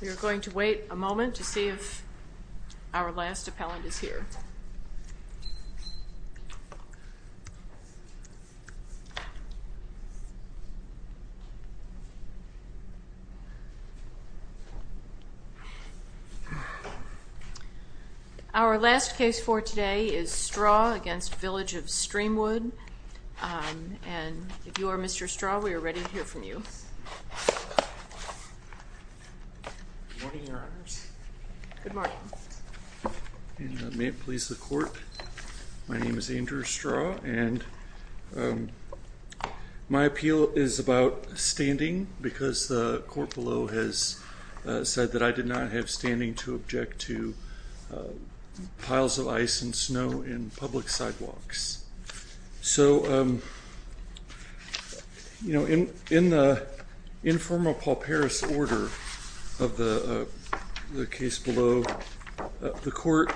We are going to wait a moment to see if our last appellant is here. Our last case for today is Straw v. Village of Streamwood, and if you are Mr. Straw, we are ready to hear from you. Good morning, Your Honors. Good morning. And may it please the court, my name is Andrew Straw, and my appeal is about standing because the court below has said that I did not have standing to object to piles of ice and snow in public sidewalks. So, you know, in the informal Pauperis order of the case below, the court,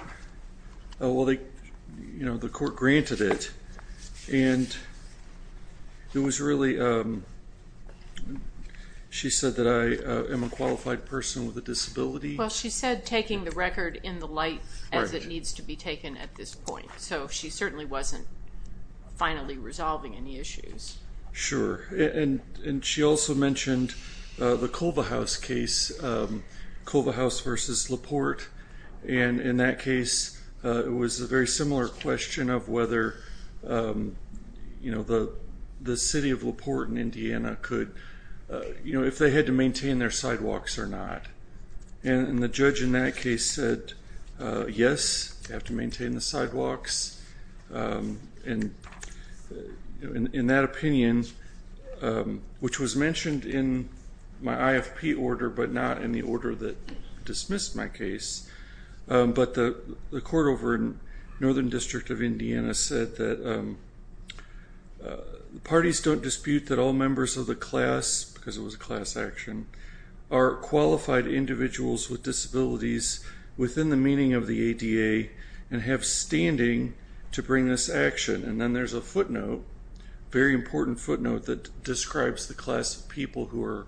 you know, the court granted it, and it was really, she said that I am a qualified person with a disability. Well, she said taking the record in the light as it needs to be taken at this point, so she certainly wasn't finally resolving any issues. Sure, and she also mentioned the Culvehouse case, Culvehouse v. LaPorte, and in that case, it was a very similar question of whether, you know, the city of LaPorte in Indiana could, you know, if they had to maintain their sidewalks or not. And the judge in that case said yes, you have to maintain the sidewalks, and in that opinion, which was mentioned in my IFP order but not in the order that dismissed my case, but the court over in Northern District of Indiana said that parties don't dispute that all members of the class, because it was a class action, are qualified individuals with disabilities within the meaning of the ADA and have standing to bring this action. And then there's a footnote, very important footnote that describes the class of people who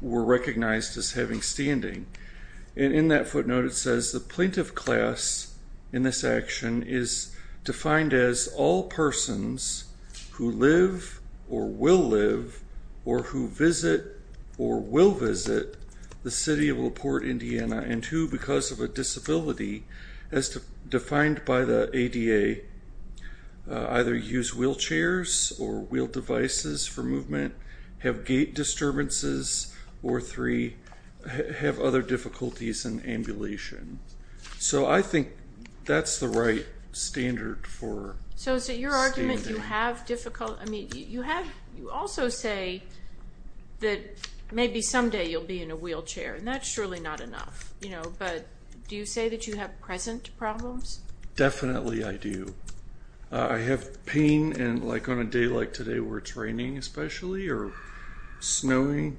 were recognized as having standing. And in that footnote, it says the plaintiff class in this action is defined as all persons who live or will live or who visit or will visit the city of LaPorte, Indiana, and who, because of a disability as defined by the ADA, either use wheelchairs or wheel devices for movement, have gait disturbances, or three, have other difficulties in ambulation. So I think that's the right standard for standing. So is it your argument you have difficult, I mean, you have, you also say that maybe someday you'll be in a wheelchair, and that's surely not enough, you know, but do you say that you have present problems? Definitely I do. I have pain and like on a day like today where it's raining especially or snowing,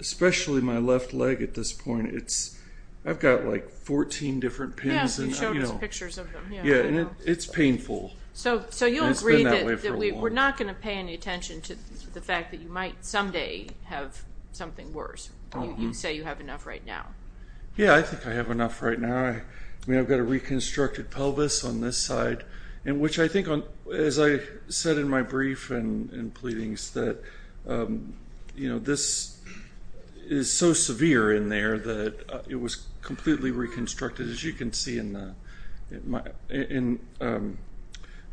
especially my left leg at this point, it's, I've got like 14 different pains. Yeah, you showed us pictures of them. Yeah, and it's painful. So you agree that we're not going to pay any attention to the fact that you might someday have something worse. You say you have enough right now. Yeah, I think I have enough right now. I mean, I've got a reconstructed pelvis on this side, and which I think on, as I said in my brief and pleadings that, you know, this is so severe in there that it was completely reconstructed, as you can see in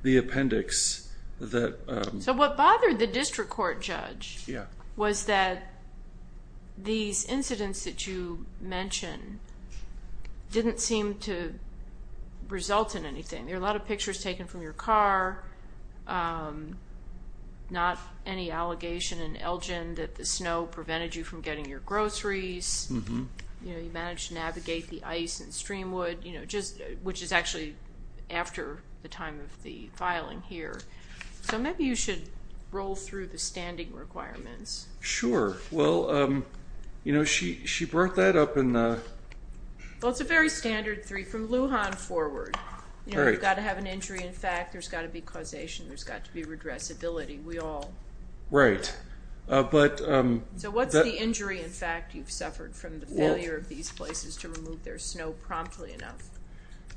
the appendix. So what bothered the district court judge was that these incidents that you mentioned didn't seem to result in anything. There are a lot of pictures taken from your car, not any allegation in Elgin that the snow prevented you from getting your groceries. You know, you managed to navigate the ice and streamwood, you know, just, which is actually after the time of the filing here. So maybe you should roll through the standing requirements. Sure. Well, you know, she brought that up in the. Well, it's a very standard three from Lujan forward. You know, you've got to have an injury. In fact, there's got to be causation. There's got to be redressability. We all. Right. But so what's the injury? In fact, you've suffered from the failure of these places to remove their snow promptly enough.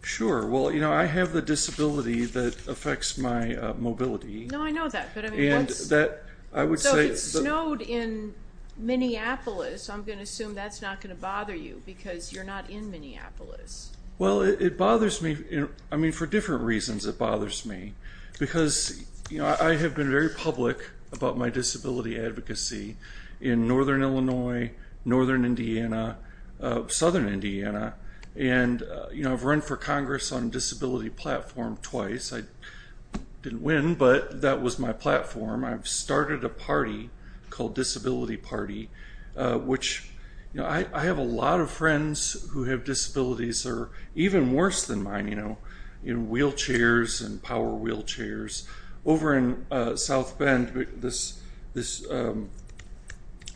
Sure. Well, you know, I have the disability that affects my mobility. No, I know that. And that I would say snowed in Minneapolis. I'm going to assume that's not going to bother you because you're not in Minneapolis. Well, it bothers me. I mean, for different reasons, it bothers me. Because, you know, I have been very public about my disability advocacy in northern Illinois, northern Indiana, southern Indiana. And, you know, I've run for Congress on a disability platform twice. I didn't win, but that was my platform. I've started a party called Disability Party, which, you know, I have a lot of friends who have disabilities that are even worse than mine. You know, wheelchairs and power wheelchairs. Over in South Bend, this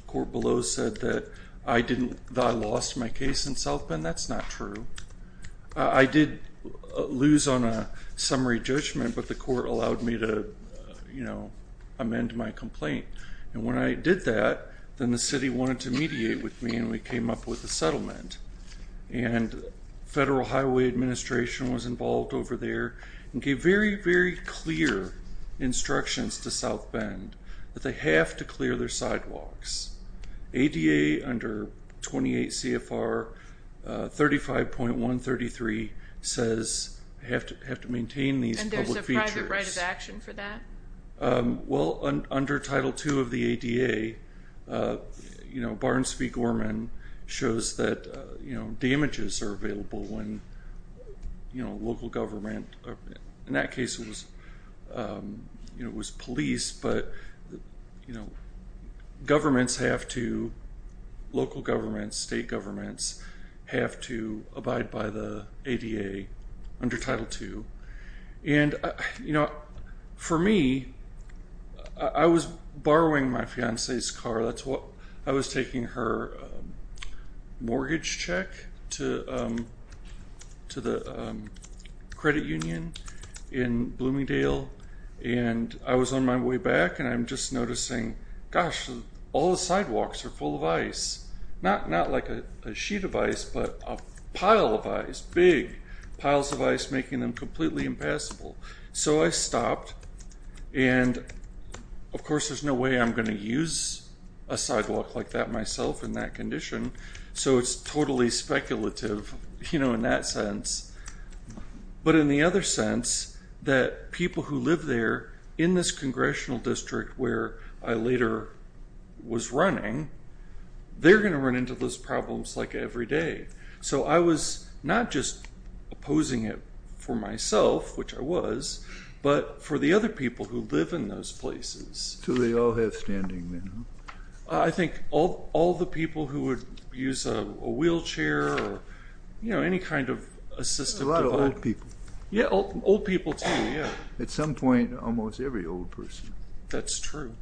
court below said that I lost my case in South Bend. That's not true. I did lose on a summary judgment, but the court allowed me to, you know, amend my complaint. And when I did that, then the city wanted to mediate with me, and we came up with a settlement. And Federal Highway Administration was involved over there and gave very, very clear instructions to South Bend that they have to clear their sidewalks. ADA under 28 CFR 35.133 says you have to maintain these public features. And there's a private right of action for that? Well, under Title II of the ADA, you know, Barnes v. Gorman shows that, you know, damages are available when, you know, local government. In that case, it was police, but, you know, governments have to, local governments, state governments, have to abide by the ADA under Title II. And, you know, for me, I was borrowing my fiancee's car. I was taking her mortgage check to the credit union in Bloomingdale. And I was on my way back, and I'm just noticing, gosh, all the sidewalks are full of ice. Not like a sheet of ice, but a pile of ice, big piles of ice, making them completely impassable. So I stopped, and, of course, there's no way I'm going to use a sidewalk like that myself in that condition, so it's totally speculative, you know, in that sense. But in the other sense, that people who live there in this congressional district where I later was running, they're going to run into those problems like every day. So I was not just opposing it for myself, which I was, but for the other people who live in those places. Do they all have standing then? I think all the people who would use a wheelchair or, you know, any kind of assistive device. There's a lot of old people. Yeah, old people, too, yeah. At some point, almost every old person. That's true.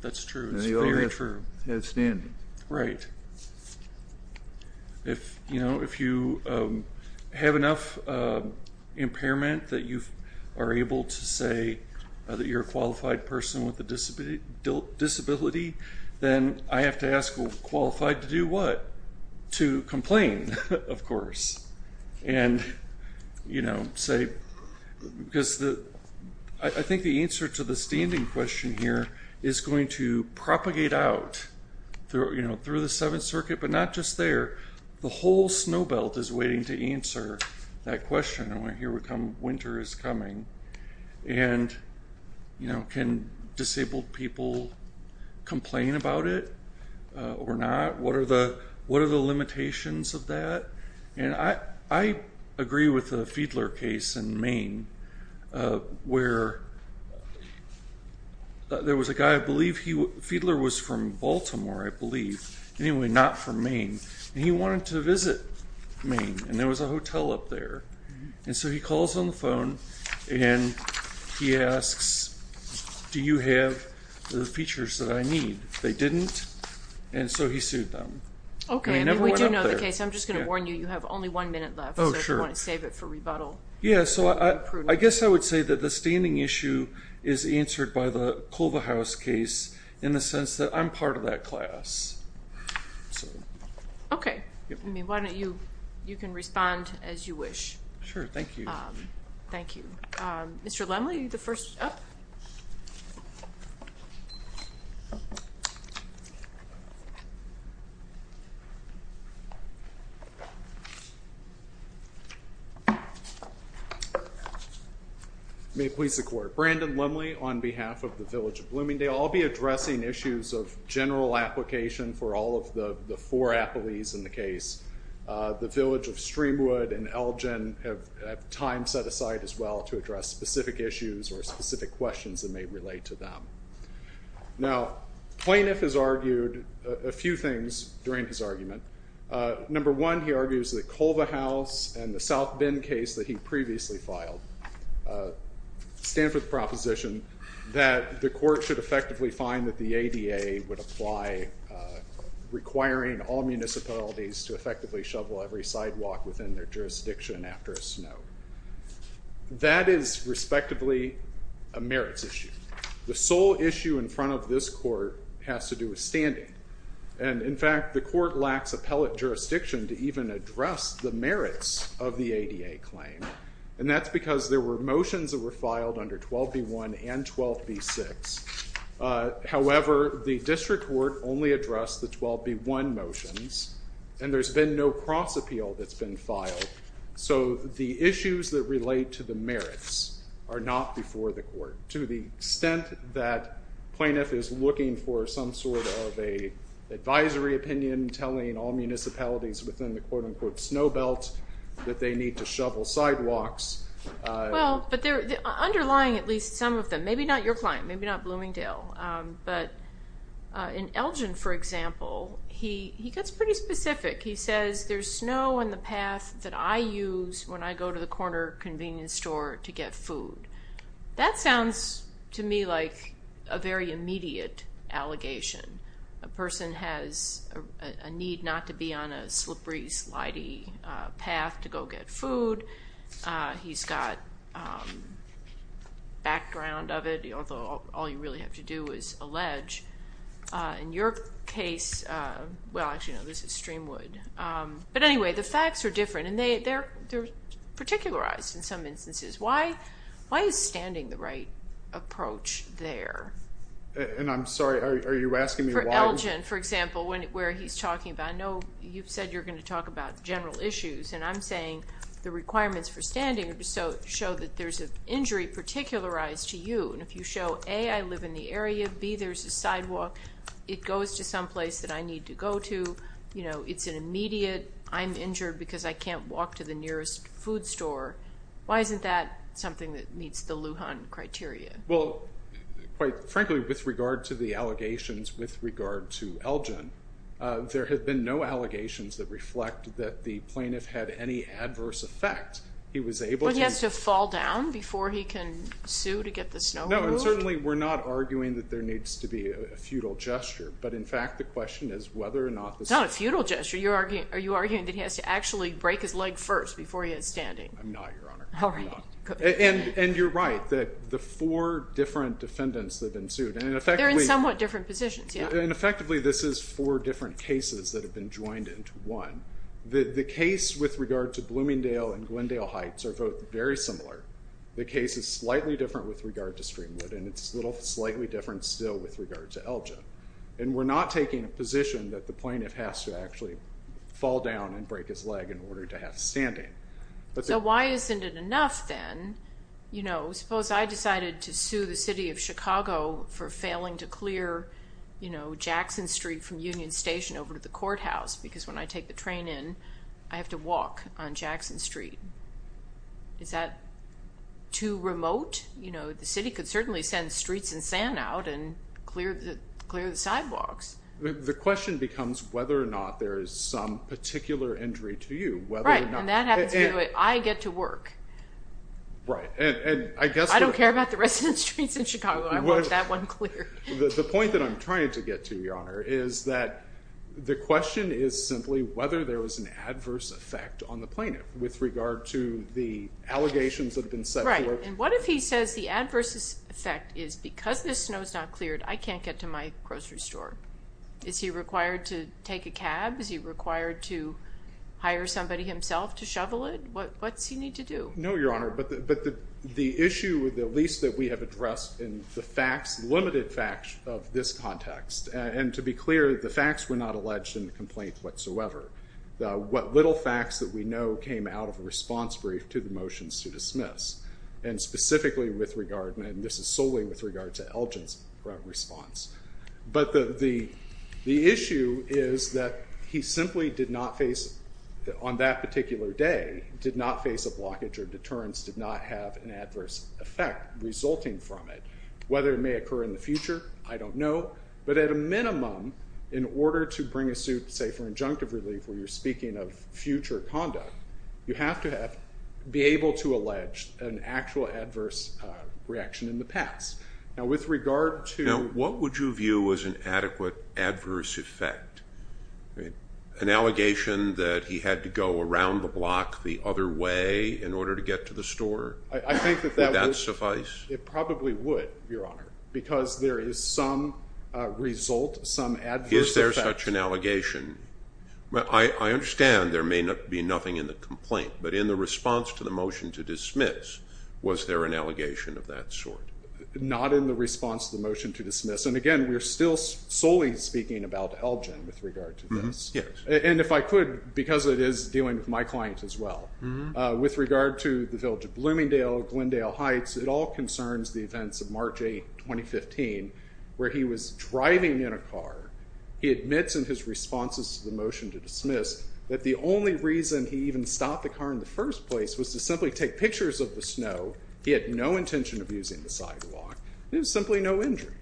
That's true. It's very true. They all have standing. Right. If, you know, if you have enough impairment that you are able to say that you're a qualified person with a disability, then I have to ask qualified to do what? And, you know, say, because I think the answer to the standing question here is going to propagate out, you know, through the Seventh Circuit, but not just there. The whole snow belt is waiting to answer that question. Winter is coming. And, you know, can disabled people complain about it or not? What are the limitations of that? And I agree with the Fiedler case in Maine where there was a guy, I believe, Fiedler was from Baltimore, I believe. Anyway, not from Maine. And he wanted to visit Maine. And there was a hotel up there. And so he calls on the phone and he asks, do you have the features that I need? They didn't. And so he sued them. Okay. And we do know the case. I'm just going to warn you, you have only one minute left. Oh, sure. So if you want to save it for rebuttal. Yeah, so I guess I would say that the standing issue is answered by the Cloverhouse case in the sense that I'm part of that class. Okay. I mean, why don't you, you can respond as you wish. Sure. Thank you. Thank you. All right. Mr. Lemley, the first. May it please the Court. Brandon Lemley on behalf of the Village of Bloomingdale. I'll be addressing issues of general application for all of the four appellees in the case. The Village of Streamwood and Elgin have time set aside as well to address specific issues or specific questions that may relate to them. Now, plaintiff has argued a few things during his argument. Number one, he argues that Cloverhouse and the South Bend case that he previously filed stand for the proposition that the court should effectively find that the ADA would apply, requiring all municipalities to effectively shovel every sidewalk within their jurisdiction after a snow. That is respectively a merits issue. The sole issue in front of this court has to do with standing. And, in fact, the court lacks appellate jurisdiction to even address the merits of the ADA claim. And that's because there were motions that were filed under 12B1 and 12B6. However, the district court only addressed the 12B1 motions, and there's been no cross-appeal that's been filed. So the issues that relate to the merits are not before the court. To the extent that plaintiff is looking for some sort of an advisory opinion telling all municipalities within the quote-unquote snow belt that they need to shovel sidewalks. Well, but underlying at least some of them, maybe not your client, maybe not Bloomingdale, but in Elgin, for example, he gets pretty specific. He says there's snow on the path that I use when I go to the corner convenience store to get food. That sounds to me like a very immediate allegation. A person has a need not to be on a slippery, slidey path to go get food. He's got background of it, although all you really have to do is allege. In your case, well, actually, no, this is Streamwood. But anyway, the facts are different, and they're particularized in some instances. Why is standing the right approach there? And I'm sorry, are you asking me why? For Elgin, for example, where he's talking about, I know you've said you're going to talk about general issues. And I'm saying the requirements for standing show that there's an injury particularized to you. And if you show, A, I live in the area, B, there's a sidewalk, it goes to someplace that I need to go to, you know, it's an immediate, I'm injured because I can't walk to the nearest food store, why isn't that something that meets the Lujan criteria? Well, quite frankly, with regard to the allegations with regard to Elgin, there have been no allegations that reflect that the plaintiff had any adverse effect. He was able to- But he has to fall down before he can sue to get the snow removed? No, and certainly we're not arguing that there needs to be a futile gesture. But in fact, the question is whether or not the- It's not a futile gesture. Are you arguing that he has to actually break his leg first before he is standing? I'm not, Your Honor. All right. And you're right that the four different defendants that have been sued, and effectively- They're in somewhat different positions, yeah. And effectively, this is four different cases that have been joined into one. The case with regard to Bloomingdale and Glendale Heights are both very similar. The case is slightly different with regard to Streamwood, and it's slightly different still with regard to Elgin. And we're not taking a position that the plaintiff has to actually fall down and break his leg in order to have standing. So why isn't it enough, then? Suppose I decided to sue the city of Chicago for failing to clear Jackson Street from Union Station over to the courthouse because when I take the train in, I have to walk on Jackson Street. Is that too remote? The city could certainly send Streets and Sand out and clear the sidewalks. The question becomes whether or not there is some particular injury to you, whether or not- I don't care about the residence streets in Chicago. I want that one clear. The point that I'm trying to get to, Your Honor, is that the question is simply whether there was an adverse effect on the plaintiff with regard to the allegations that have been set forth. Right. And what if he says the adverse effect is because this snow is not cleared, I can't get to my grocery store? Is he required to take a cab? Is he required to hire somebody himself to shovel it? What's he need to do? No, Your Honor, but the issue, at least that we have addressed in the facts, limited facts of this context, and to be clear, the facts were not alleged in the complaint whatsoever. What little facts that we know came out of a response brief to the motions to dismiss, and specifically with regard, and this is solely with regard to Elgin's response. But the issue is that he simply did not face, on that particular day, did not face a blockage or deterrence, did not have an adverse effect resulting from it. Whether it may occur in the future, I don't know, but at a minimum, in order to bring a suit, say, for injunctive relief where you're speaking of future conduct, you have to be able to allege an actual adverse reaction in the past. Now, what would you view as an adequate adverse effect? An allegation that he had to go around the block the other way in order to get to the store? Would that suffice? It probably would, Your Honor, because there is some result, some adverse effect. Is there such an allegation? I understand there may be nothing in the complaint, but in the response to the motion to dismiss, was there an allegation of that sort? Not in the response to the motion to dismiss. And again, we're still solely speaking about Elgin with regard to this. Yes. And if I could, because it is dealing with my client as well, with regard to the Village of Bloomingdale, Glendale Heights, it all concerns the events of March 8, 2015, where he was driving in a car. He admits in his responses to the motion to dismiss that the only reason he even stopped the car in the first place was to simply take pictures of the snow. He had no intention of using the sidewalk. There was simply no injury.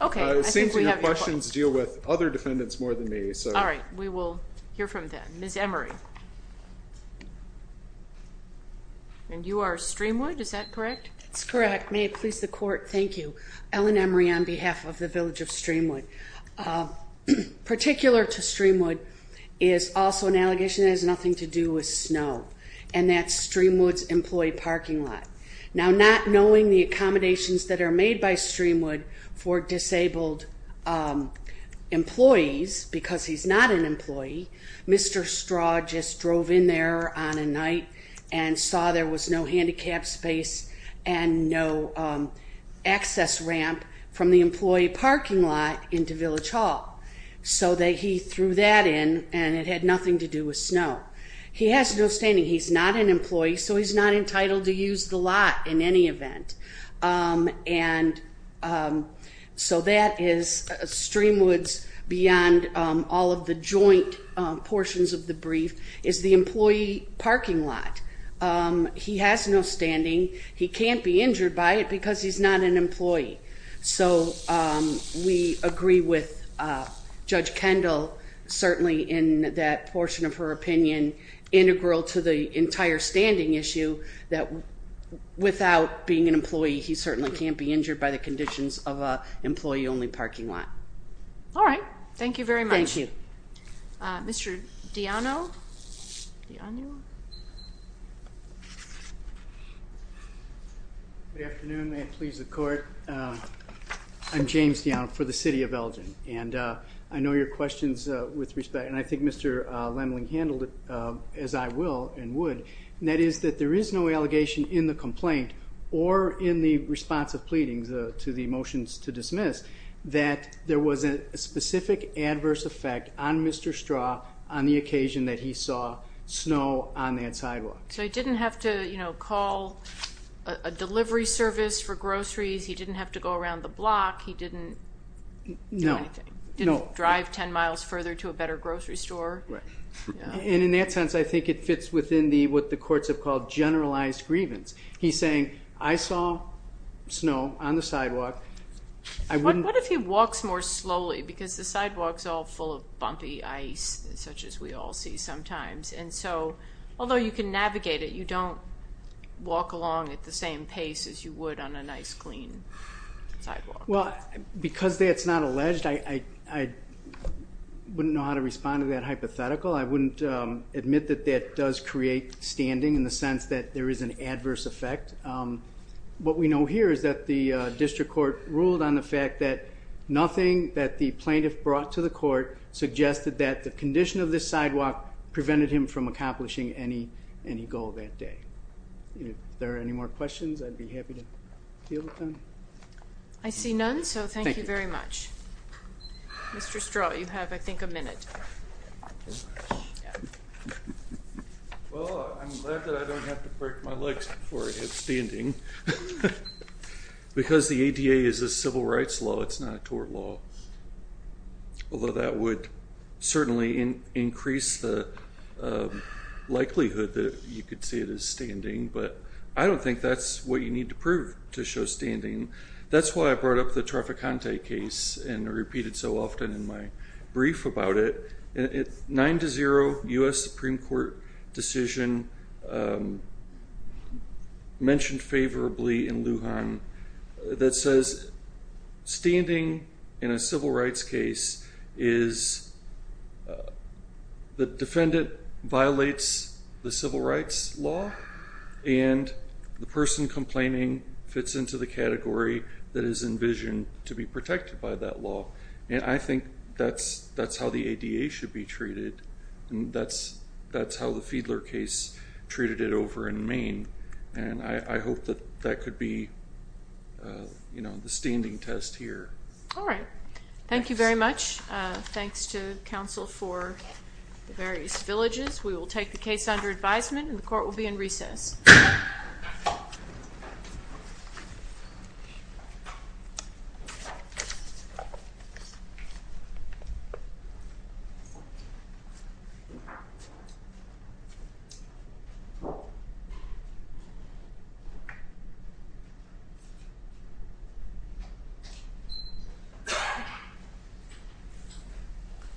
Okay. It seems your questions deal with other defendants more than me. All right. We will hear from them. Ms. Emery. And you are Streamwood, is that correct? That's correct. May it please the Court, thank you. Ellen Emery on behalf of the Village of Streamwood. Particular to Streamwood is also an allegation that has nothing to do with snow, and that's Streamwood's employee parking lot. Now, not knowing the accommodations that are made by Streamwood for disabled employees, because he's not an employee, Mr. Straw just drove in there on a night and saw there was no handicap space and no access ramp from the employee parking lot into Village Hall. So he threw that in, and it had nothing to do with snow. He has no standing. He's not an employee, so he's not entitled to use the lot in any event. And so that is Streamwood's, beyond all of the joint portions of the brief, is the employee parking lot. He has no standing. He can't be injured by it because he's not an employee. So we agree with Judge Kendall, certainly in that portion of her opinion integral to the entire standing issue, that without being an employee, he certainly can't be injured by the conditions of an employee-only parking lot. All right. Thank you very much. Thank you. Mr. Diano? Good afternoon. May it please the Court. I'm James Diano for the City of Elgin, and I know your questions with respect, and I think Mr. Lemling handled it as I will and would, and that is that there is no allegation in the complaint or in the response of pleadings to the motions to dismiss that there was a specific adverse effect on Mr. Straw on the occasion that he saw snow on that sidewalk. So he didn't have to call a delivery service for groceries. He didn't have to go around the block. He didn't do anything. No. Didn't drive 10 miles further to a better grocery store. Right. And in that sense, I think it fits within what the courts have called generalized grievance. He's saying, I saw snow on the sidewalk. What if he walks more slowly because the sidewalk is all full of bumpy ice such as we all see sometimes? And so although you can navigate it, you don't walk along at the same pace as you would on a nice, clean sidewalk. Well, because that's not alleged, I wouldn't know how to respond to that hypothetical. I wouldn't admit that that does create standing in the sense that there is an adverse effect. What we know here is that the district court ruled on the fact that nothing that the plaintiff brought to the court suggested that the condition of this sidewalk prevented him from accomplishing any goal that day. If there are any more questions, I'd be happy to deal with them. I see none. So thank you very much. Mr. Straw, you have, I think, a minute. Well, I'm glad that I don't have to break my legs before I have standing. Because the ADA is a civil rights law. It's not a tort law. Although that would certainly increase the likelihood that you could see it as standing. But I don't think that's what you need to prove to show standing. That's why I brought up the Trafficante case and repeated so often in my brief about it. Nine to zero, U.S. Supreme Court decision mentioned favorably in Lujan that says standing in a civil rights case is the defendant violates the civil rights law. And the person complaining fits into the category that is envisioned to be protected by that law. And I think that's how the ADA should be treated. And that's how the Fiedler case treated it over in Maine. And I hope that that could be the standing test here. All right. Thank you very much. Thanks to counsel for the various villages. We will take the case under advisement and the court will be in recess. Thank you.